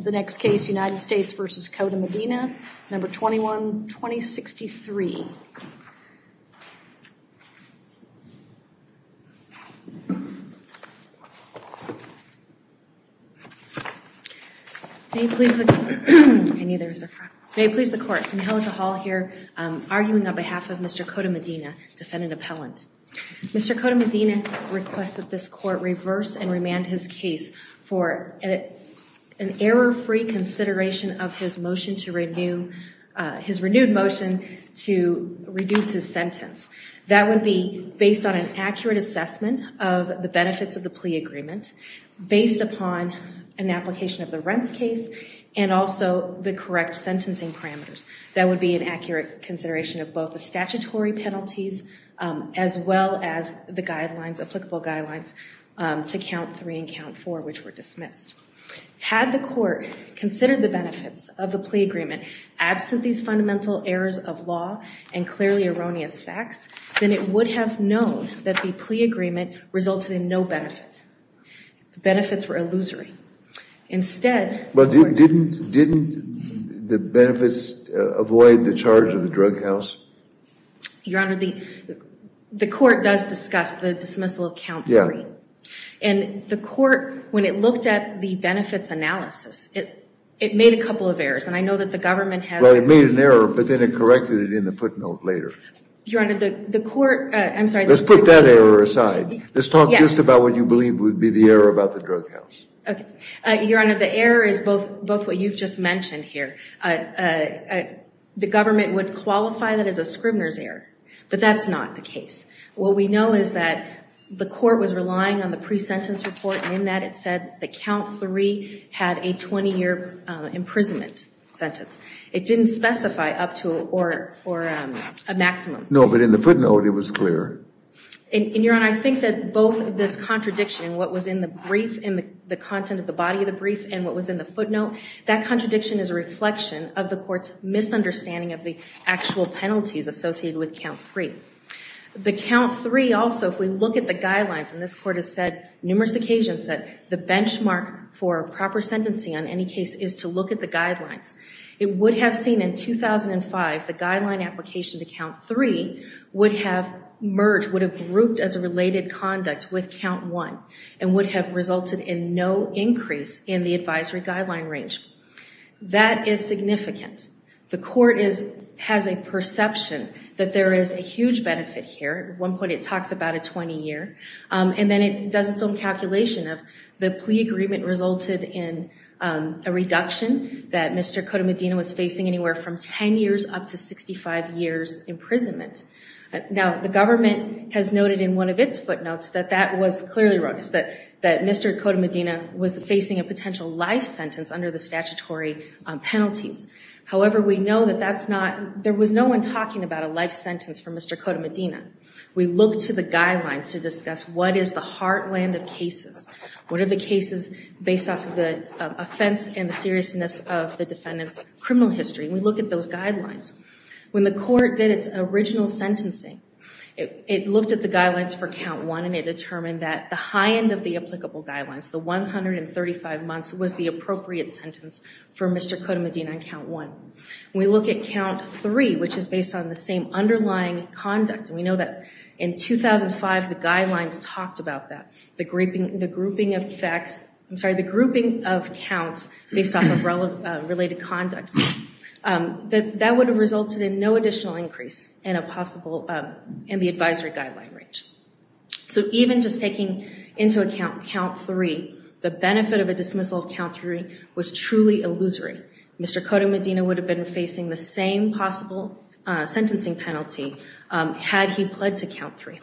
The next case, United States v. Cota-Medina, No. 21-2063. May it please the Court, I knew there was a front. May it please the Court, Angelica Hall here, arguing on behalf of Mr. Cota-Medina, defendant appellant. Mr. Cota-Medina request that this Court reverse and remand his case for an error-free consideration of his motion to renew, his renewed motion to reduce his sentence. That would be based on an accurate assessment of the benefits of the plea agreement, based upon an application of the rents case, and also the correct sentencing parameters. That would be an accurate consideration of both the statutory penalties, as well as the guidelines applicable guidelines to count three and count four, which were dismissed. Had the Court considered the benefits of the plea agreement absent these fundamental errors of law and clearly erroneous facts, then it would have known that the plea agreement resulted in no benefits. The benefits were illusory. Instead... But didn't the benefits avoid the charge of the drug counts? Your Honor, the Court does discuss the dismissal of count three. And the Court, when it looked at the benefits analysis, it made a couple of errors. And I know that the government has... Well, it made an error, but then it corrected it in the footnote later. Your Honor, the Court... Let's put that error aside. Let's talk just about what you believe would be the error about the drug counts. Your Honor, the error is both what you've just mentioned here. The government would qualify that as a Scribner's error, but that's not the case. What we know is that the Court was relying on the pre-sentence report, and in that it said that count three had a 20-year imprisonment sentence. It didn't specify up to or a maximum. No, but in the footnote it was clear. And, Your Honor, I think that both this contradiction, what was in the brief and the content of the body of the brief and what was in the footnote, that contradiction is a reflection of the Court's misunderstanding of the actual penalties associated with count three. The count three also, if we look at the guidelines, and this Court has said numerous occasions that the benchmark for proper sentencing on any case is to look at the guidelines, it would have seen in 2005 the guideline application to count three would have merged, would have grouped as a related conduct with count one and would have resulted in no increase in the advisory guideline range. That is significant. The Court has a perception that there is a huge benefit here. At one point it talks about a 20-year, and then it does its own calculation of the plea agreement resulted in a reduction that Mr. Cotomedino was facing anywhere from 10 years up to 65 years imprisonment. Now, the government has noted in one of its footnotes that that was clearly erroneous, that Mr. Cotomedino was facing a potential life sentence under the statutory penalties. However, we know that that's not, there was no one talking about a life sentence for Mr. Cotomedino. We look to the guidelines to discuss what is the heartland of cases. What are the cases based off of the offense and the seriousness of the defendant's criminal history? We look at those guidelines. When the Court did its original sentencing, it looked at the guidelines for count one and it determined that the high end of the applicable guidelines, the 135 months, was the appropriate sentence for Mr. Cotomedino on count one. We look at count three, which is based on the same underlying conduct. We know that in 2005 the guidelines talked about that. The grouping of facts, I'm sorry, the grouping of counts based off of related conduct. That would have resulted in no additional increase in a possible, in the advisory guideline range. So even just taking into account count three, the benefit of a dismissal of count three was truly illusory. Mr. Cotomedino would have been facing the same possible sentencing penalty had he pled to count three.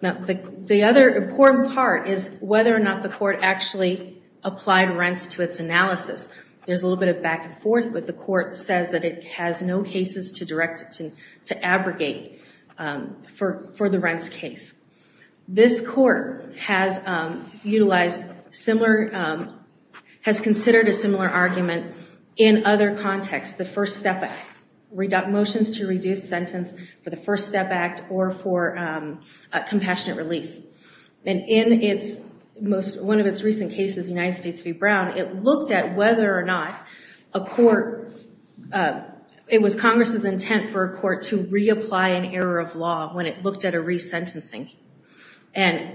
The other important part is whether or not the Court actually applied rents to its analysis. There's a little bit of back and forth, but the Court says that it has no cases to abrogate for the rents case. This Court has utilized similar, has used to reduce sentence for the First Step Act or for Compassionate Release. In one of its recent cases, United States v. Brown, it looked at whether or not a court, it was Congress' intent for a court to reapply an error of law when it looked at a resentencing.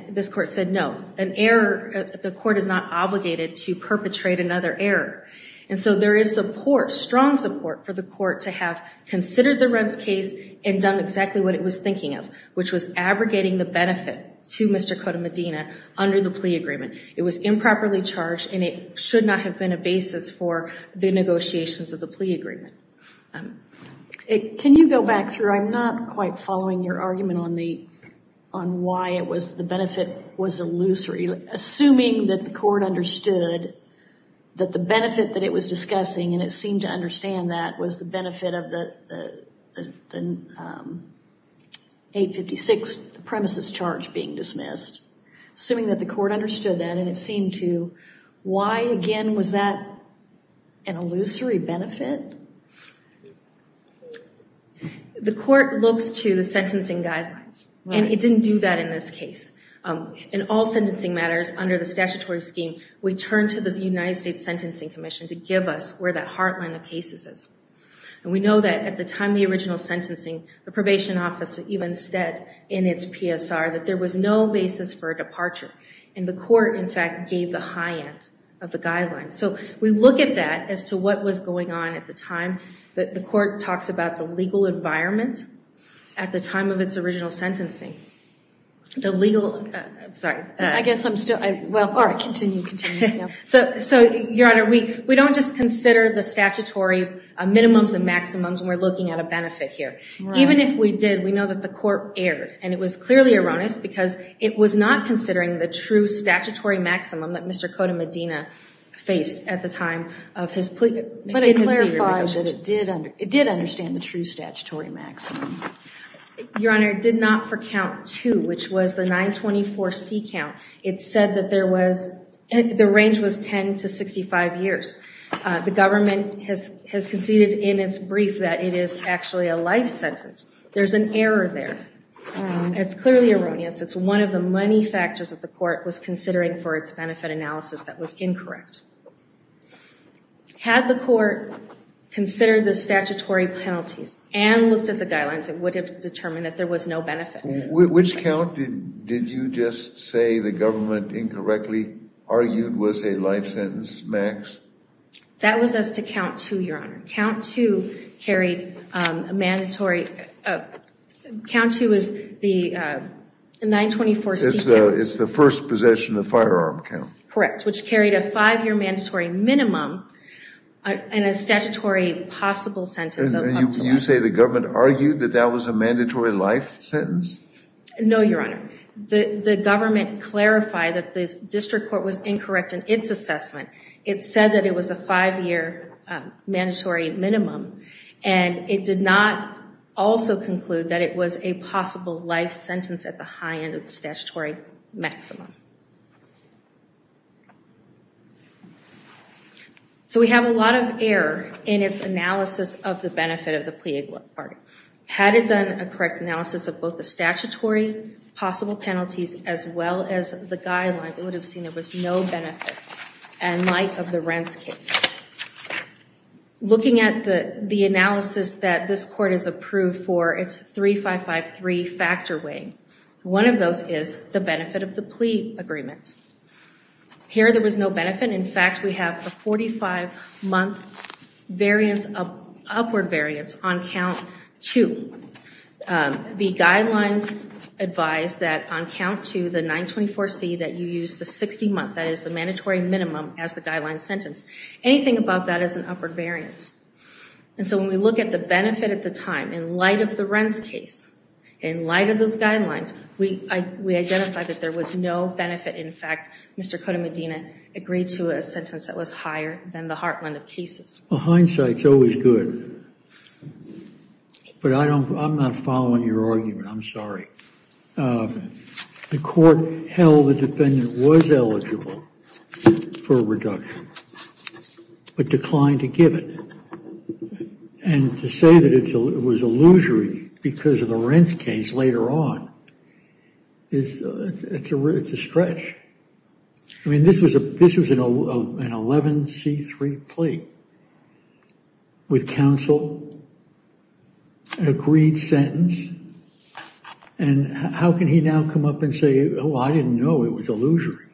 This Court said no, an error, the Court is not obligated to perpetrate another error. And so there is support, strong support for the Court to have considered the rents case and done exactly what it was thinking of, which was abrogating the benefit to Mr. Cotomedino under the plea agreement. It was improperly charged and it should not have been a basis for the negotiations of the plea agreement. Can you go back through, I'm not quite following your argument on why it was, the benefit that it was discussing and it seemed to understand that was the benefit of the 856 premises charge being dismissed. Assuming that the Court understood that and it seemed to, why again was that an illusory benefit? The Court looks to the sentencing guidelines and it didn't do that in this case. In all sentencing matters under the statutory scheme, we turn to the United States Sentencing Commission to give us where that heartland of cases is. And we know that at the time of the original sentencing, the probation office even said in its PSR that there was no basis for a departure. And the Court in fact gave the high end of the guidelines. So we look at that as to what was going on at the time. The Court talks about the original sentencing. So Your Honor, we don't just consider the statutory minimums and maximums when we're looking at a benefit here. Even if we did, we know that the Court erred. And it was clearly erroneous because it was not considering the true statutory maximum that Mr. Cota Medina faced at the time of his plea. It did understand the true statutory maximum. Your Honor, it did not for count two, which was the 924C count. It said that there was, the range was 10 to 65 years. The government has conceded in its brief that it is actually a life sentence. There's an error there. It's clearly erroneous. It's one of the many factors that the Court was considering for its consider the statutory penalties and looked at the guidelines that would have determined that there was no benefit. Which count did you just say the government incorrectly argued was a life sentence max? That was as to count two, Your Honor. Count two carried a mandatory, count two was the 924C count. It's the first possession of firearm count. Correct, which carried a five-year mandatory minimum and a statutory possible sentence. You say the government argued that that was a mandatory life sentence? No, Your Honor. The government clarified that the District Court was incorrect in its assessment. It said that it was a five-year mandatory minimum. And it did not also conclude that it was a possible life sentence at the high end of the statutory maximum. So we have a lot of error in its analysis of the benefit of the plea bargain. Had it done a correct analysis of both the statutory possible penalties as well as the guidelines, it would have seen there was no benefit in light of the rents case. Looking at the analysis that this Court has approved for its 3553 factor weighing, one of those is the benefit of the plea agreement. Here there was no benefit. In fact, we have a 45-month upward variance on count two. The guidelines advise that on count two, the 924C that you use the 60-month, that is the mandatory minimum as the guideline sentence. Anything above that is an upward variance. And so when we look at the benefit at the time, in light of the rents case, in light of those guidelines, we identify that there was no benefit. In fact, Mr. Cota-Medina agreed to a sentence that was higher than the heartland of cases. Hindsight is always good. But I'm not following your argument. I'm sorry. The Court held the defendant was eligible for a reduction, but declined to give it. And to say that it was illusory because of the rents case later on is a stretch. I mean, this was an 11C3 plea with counsel, an agreed sentence. And how can he now come up and say, oh, I didn't know it was illusory?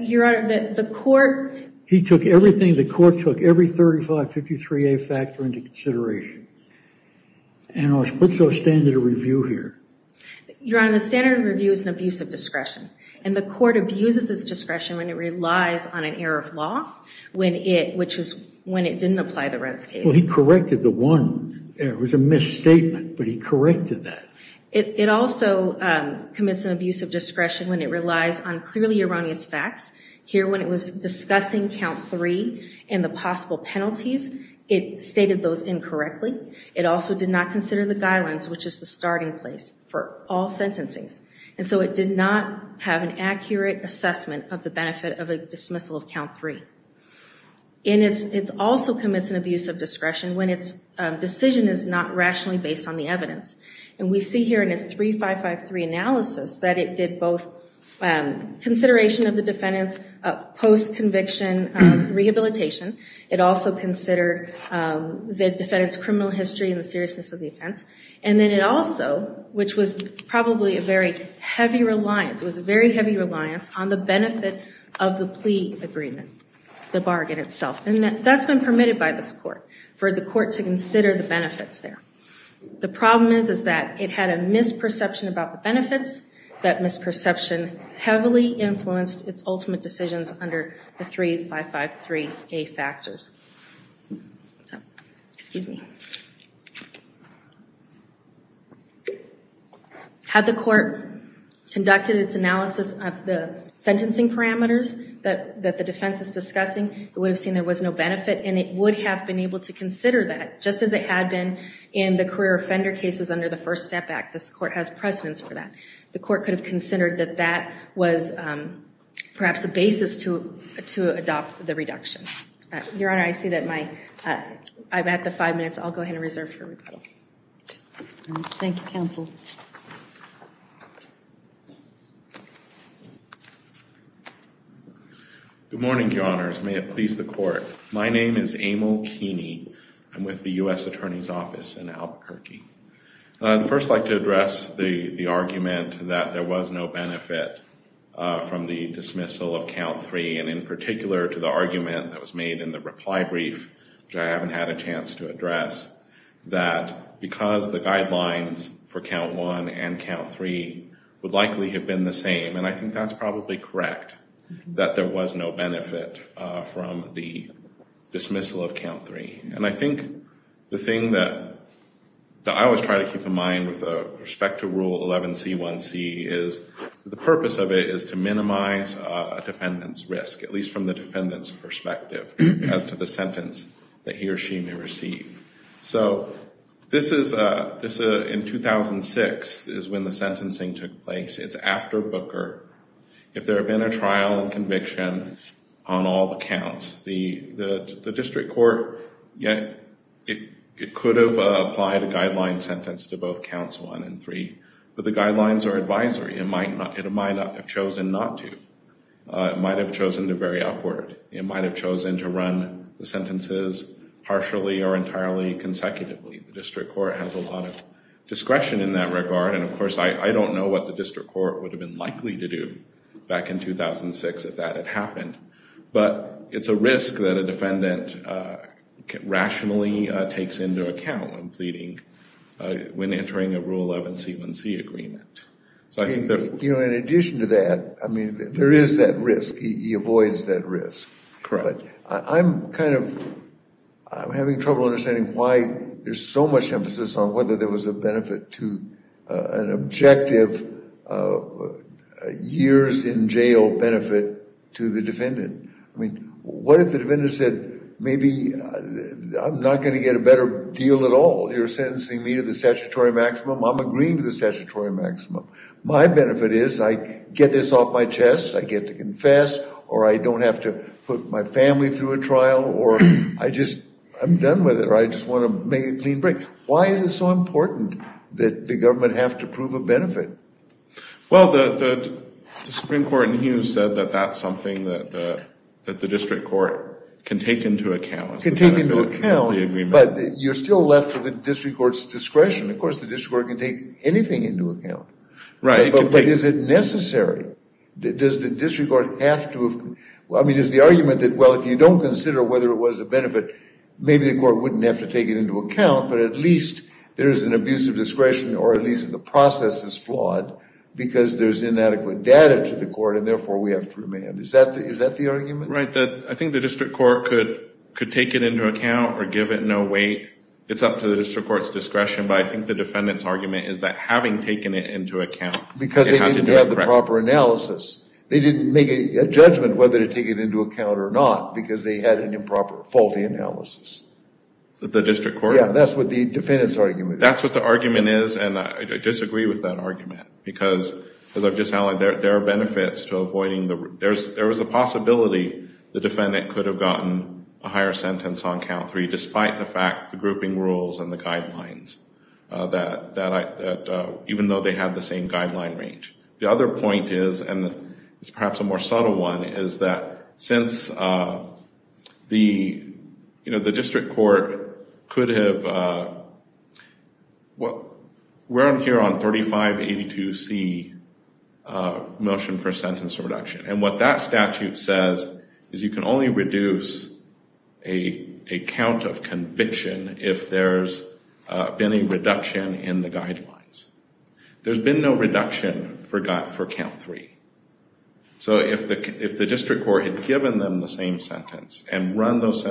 Your Honor, the Court... He took everything the Court took, every 3553A factor into consideration. And what's the standard of review here? Your Honor, the standard of review is an abuse of discretion. And the Court abuses its discretion when it relies on an error of law, which is when it didn't apply the rents case. Well, he corrected the one there. It was a misstatement, but he corrected that. It also commits an abuse of discretion when it relies on clearly erroneous facts. Here, when it was discussing count three and the possible penalties, it stated those incorrectly. It also did not consider the guidelines, which is the starting place for all sentencings. And so it did not have an accurate assessment of the benefit of a dismissal of count three. And it also commits an abuse of discretion when its decision is not rationally based on the evidence. And we see here in this 3553 analysis that it did both consideration of the defendant's post-conviction rehabilitation. It also considered the defendant's criminal history and the seriousness of the offense. And then it also, which was probably a very heavy reliance, it was a very heavy reliance on the benefit of the plea agreement, the bargain itself. And that's been permitted by this Court for the Court to consider the benefits there. The problem is that it had a misperception about the benefits. That misperception heavily influenced its 3553A factors. Had the Court conducted its analysis of the sentencing parameters that the defense is discussing, it would have seen there was no benefit. And it would have been able to consider that, just as it had been in the career offender cases under the First Step Act. This Court has precedence for that. The Court could have considered that that was perhaps a basis to adopt the reduction. Your Honor, I see that my I've had the five minutes. I'll go ahead and reserve for rebuttal. Good morning, Your Honors. May it please the Court. My name is Amal Keeney. I'm with the U.S. Attorney's Office in Albuquerque. And I'd first like to address the argument that there was no benefit from the dismissal of count three. And in particular to the argument that was made in the reply brief, which I haven't had a chance to address, that because the guidelines for count one and count three would likely have been the same. And I think that's probably correct, that there was no benefit from the dismissal of count three. And I think the thing that I always try to keep in mind with respect to Rule 11C1C is the purpose of it is to minimize a defendant's risk, at least from the defendant's perspective, as to the sentence that he or she may receive. So this is in 2006 is when the sentencing took place. It's after Booker. If there had been a trial and conviction on all the counts, the district court could have applied a guideline sentence to both counts one and three. But the guidelines are advisory. It might have chosen not to. It might have chosen to vary upward. It might have chosen to run the sentences partially or entirely consecutively. The district court has a lot of discretion in that regard. And of course, I don't know what the district court would have been likely to do back in 2006 if that had happened. But it's a risk that a defendant rationally takes into account when entering a Rule 11C1C agreement. In addition to that, there is that risk. He avoids that risk. But I'm kind of having trouble understanding why there's so much emphasis on whether there was a benefit to an objective years in jail benefit to the defendant. I mean, what if the defendant said maybe I'm not going to get a better deal at all. You're sentencing me to the statutory maximum. I'm agreeing to the statutory maximum. My benefit is I get this off my chest. I get to confess or I don't have to put my family through a trial or I just I'm done with it or I just want to make a clean break. Why is it so important that the government have to prove a benefit? Well, the Supreme Court in Hughes said that that's something that the district court can take into account. But you're still left to the district court's discretion. Of course, the district court can take anything into account. Right. But is it necessary? Does the district court have to? I mean, is the argument that, well, if you don't consider whether it was a benefit, maybe the court wouldn't have to take it into account. But at least there is an abuse of discretion or at least the process is flawed because there's inadequate data to the court and therefore we have to remand. Is that the argument? Right. I think the district court could take it into account or give it no weight. It's up to the district court's discretion. But I think the defendant's argument is that having taken it into account. Because they didn't have the proper analysis. They didn't make a judgment whether to take it into account or not because they had an improper, faulty analysis. The district court? Yeah, that's what the defendant's argument is. That's what the argument is and I disagree with that argument because, as I've just outlined, there are benefits to avoiding the... There is a possibility the defendant could have gotten a higher sentence on count three despite the fact, the grouping rules and the guidelines. Even though they have the same guideline range. The other point is, and it's perhaps a more subtle one, is that since the district court could have... We're here on 3582C motion for sentence reduction and what that statute says is you can only reduce a count of conviction if there's been a reduction in the guidelines. There's been no reduction for count three. So if the district court had given them the same sentence and run those...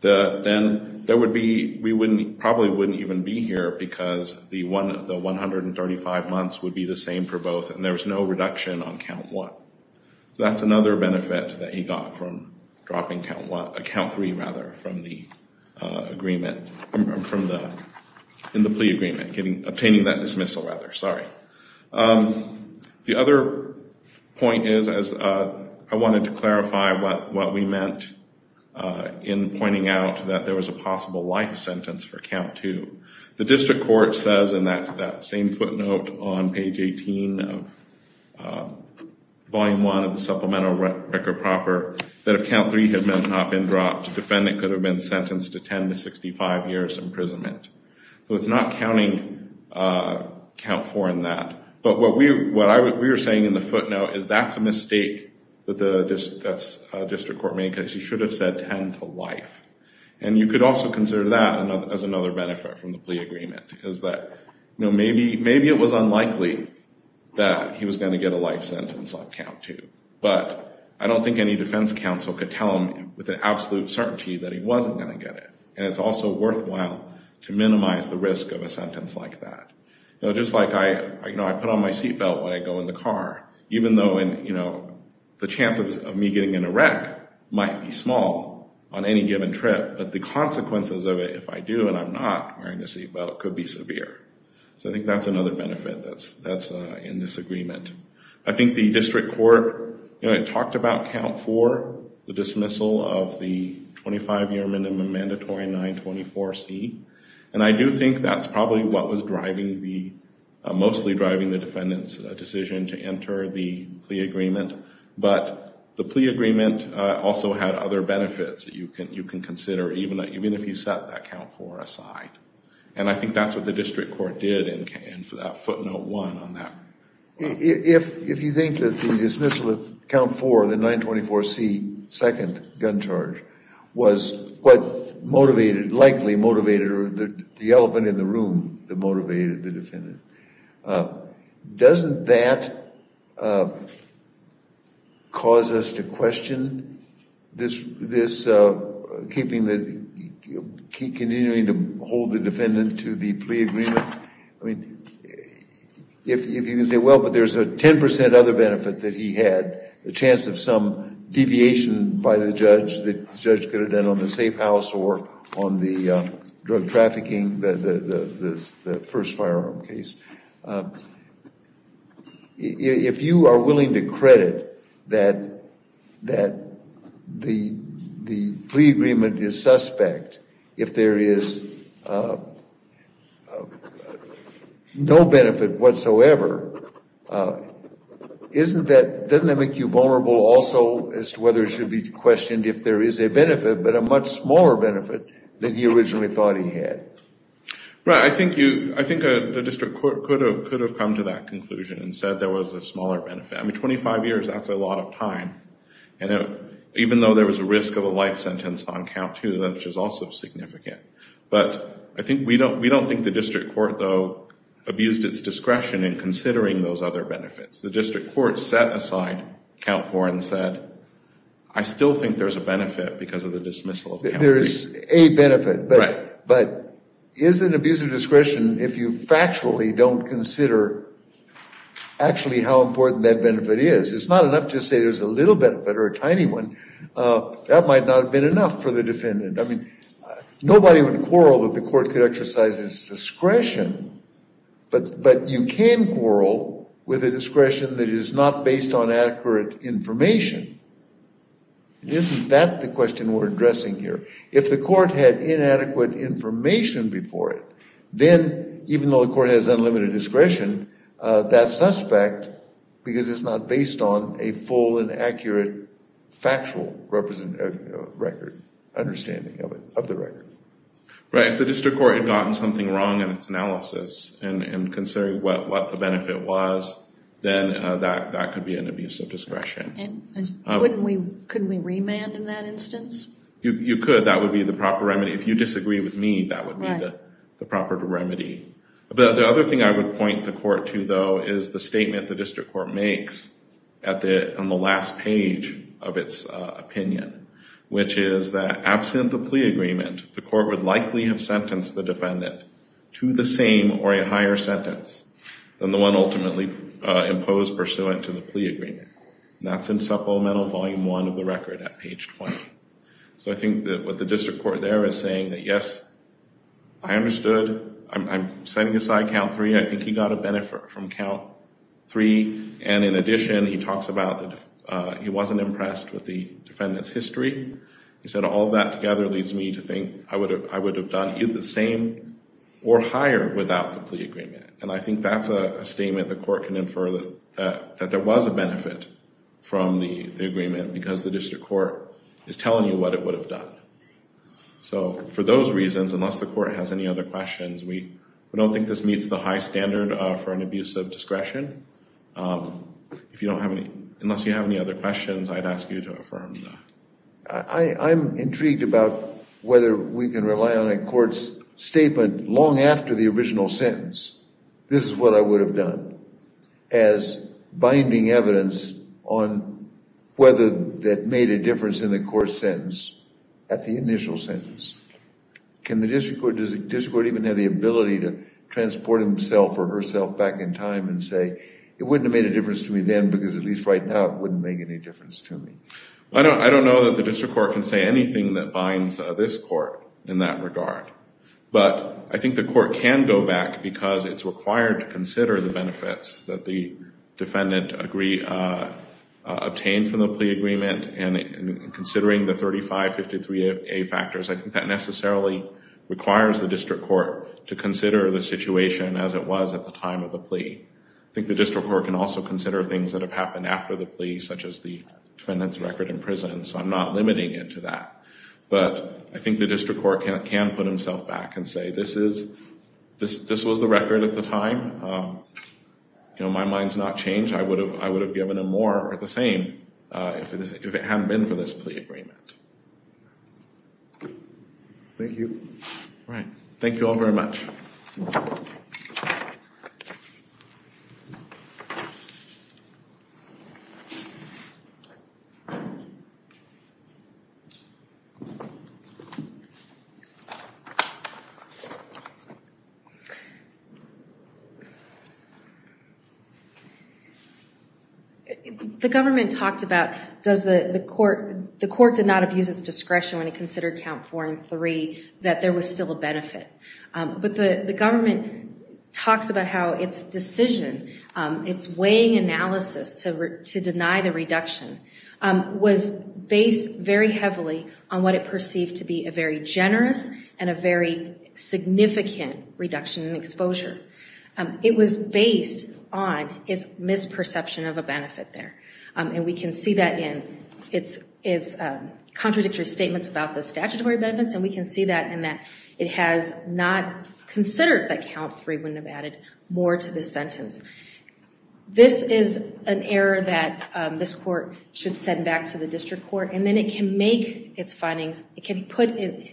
Then we probably wouldn't even be here because the 135 months would be the same for both and there's no reduction on count one. That's another benefit that he got from dropping count three from the plea agreement. The other point is, I wanted to clarify what we meant in pointing out that there was a possible life sentence for count two. The district court says, and that's that same footnote on page 18 of volume one of the supplemental record proper, that if count three had not been dropped, the defendant could have been sentenced to 10 to 65 years imprisonment. So it's not counting count four in that. But what we were saying in the footnote is that's a mistake that the district court made because he should have said 10 to life. And you could also consider that as another benefit from the plea agreement, is that maybe it was unlikely that he was going to get a life sentence on count two. But I don't think any defense counsel could tell him with absolute certainty that he wasn't going to get it. And it's also worthwhile to minimize the risk of a sentence like that. Just like I put on my seatbelt when I go in the car, even though the chances of me getting in a wreck might be small on any given trip. But the consequences of it, if I do and I'm not wearing a seatbelt, could be severe. So I think that's another benefit that's in this agreement. I think the district court talked about count four, the dismissal of the 25-year minimum mandatory 924C. And I do think that's probably what was mostly driving the defendant's decision to enter the plea agreement. But the plea agreement also had other benefits that you can consider, even if you set that count four aside. And I think that's what the district court did in that footnote one on that. If you think that the dismissal of count four, the 924C second gun charge, was what motivated, likely motivated the elephant in the room that motivated the defendant, doesn't that cause us to question this keeping the, continuing to hold the defendant to the plea agreement? I mean, if you can say well, but there's a 10% other benefit that he had, the chance of some deviation by the judge, the judge could have done on the safe house or on the drug trafficking, the first firearm case. If you are willing to credit that the plea agreement is suspect if there is no benefit whatsoever, doesn't that make you vulnerable also as to whether it should be questioned if there is a benefit, but a much smaller benefit than he originally thought he had? Right, I think you, I think the district court could have come to that conclusion and said there was a smaller benefit. I mean, 25 years, that's a lot of time. And even though there was a risk of a life sentence on count two, which is also significant. But I think, we don't think the district court, though, abused its discretion in considering those other benefits. The district court set aside count four and said, I still think there's a benefit because of the dismissal of count three. There is a benefit, but is it an abuse of discretion if you factually don't consider actually how important that benefit is? It's not enough to say there's a little benefit or a tiny one. That might not have been enough for the defendant. I mean, nobody would quarrel that the court could exercise its discretion, but you can quarrel with a discretion that is not based on accurate information. Isn't that the question we're addressing here? If the court had inadequate information before it, then even though the court has unlimited discretion, that suspect, because it's not based on a full and accurate factual record, understanding of it, of the record. Right. If the district court had gotten something wrong in its analysis and considering what the benefit was, then that could be an abuse of discretion. Couldn't we remand in that instance? You could. That would be the proper remedy. If you disagree with me, that would be the proper remedy. The other thing I would point the court to, though, is the statement the district court makes on the last plea agreement, the court would likely have sentenced the defendant to the same or a higher sentence than the one ultimately imposed pursuant to the plea agreement. That's in Supplemental Volume 1 of the record at page 20. So I think that what the district court there is saying that, yes, I understood. I'm setting aside Count 3. I think he got a benefit from Count 3. And in addition, he talks about he wasn't impressed with the defendant's history. He said, all of that together leads me to think I would have done either the same or higher without the plea agreement. And I think that's a statement the court can infer that there was a benefit from the agreement because the district court is telling you what it would have done. So for those reasons, unless the court has any other questions, we don't think this meets the high standard for an abuse of discretion. Unless you have any other questions, I'd ask you to affirm that. I'm intrigued about whether we can rely on a court's statement long after the original sentence, this is what I would have done, as binding evidence on whether that made a difference in the court's sentence at the initial sentence. Does the district court even have the ability to transport himself or herself back in time and say, it wouldn't have made a difference to me then because at least right now it wouldn't make any difference to me? I don't know that the district court can say anything that binds this court in that regard. But I think the court can go back because it's required to consider the benefits that the defendant obtained from the plea agreement and considering the 3553A factors, I think that necessarily requires the district court to consider the situation as it was at the time of the plea. I think the district court can also consider things that have happened after the plea, such as the defendant's record in prison, so I'm not limiting it to that. But I think the district court can put himself back and say, this was the record at the time, my mind's not changed, I would have given him more or the same if it hadn't been for this plea agreement. Thank you. Thank you all very much. The government talked about does the court, the court did not abuse its discretion when it considered count four and three, that there was still a benefit. But the government talks about how its decision, its weighing analysis to deny the reduction was based very heavily on what it perceived to be a very generous and a very significant reduction in exposure. It was based on its misperception of a benefit there. And we can see that in its contradictory statements about the statutory benefits and we can see that in that it has not considered that count three wouldn't have added more to this sentence. This is an error that this court should send back to the district court and then it can make its findings,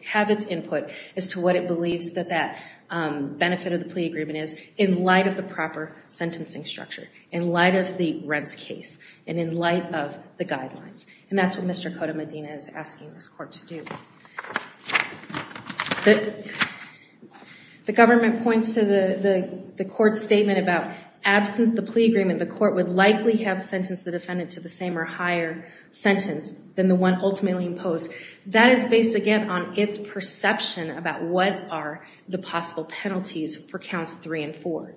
have its input as to what it believes that that benefit of the plea agreement is in light of the proper sentencing structure, in light of the rents case, and in light of the guidelines. And that's what Mr. Cota-Medina is asking this court to do. The government points to the same or higher sentence than the one ultimately imposed. That is based again on its perception about what are the possible penalties for counts three and four.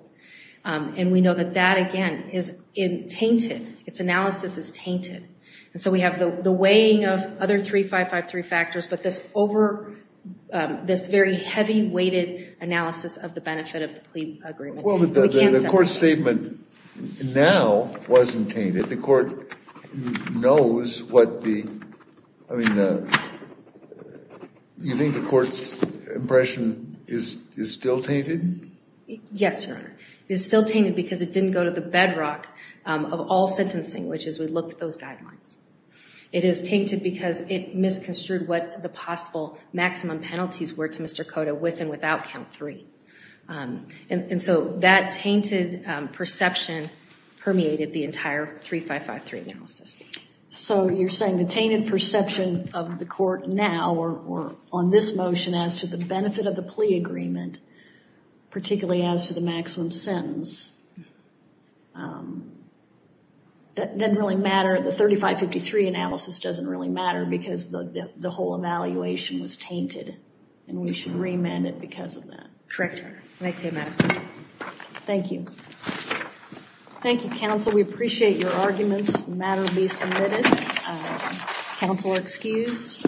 And we know that that again is tainted, its analysis is tainted. And so we have the weighing of other three, five, five, three factors, but this over, this very heavy weighted analysis of the benefit of the plea agreement. Well, the court's statement now wasn't tainted. The court knows what the, I mean, you think the court's impression is still tainted? Yes, Your Honor. It's still tainted because it didn't go to the bedrock of all sentencing, which is we looked at those guidelines. It is tainted because it misconstrued what the possible maximum penalties were to Mr. Cota with and without count three. And so that tainted perception permeated the entire three, five, five, three analysis. So you're saying the tainted perception of the court now, or on this motion, as to the benefit of the plea agreement, particularly as to the maximum sentence, didn't really matter. The whole evaluation was tainted and we should remand it because of that. Thank you. Thank you, counsel. We appreciate your arguments. The matter will be submitted. Counsel are excused.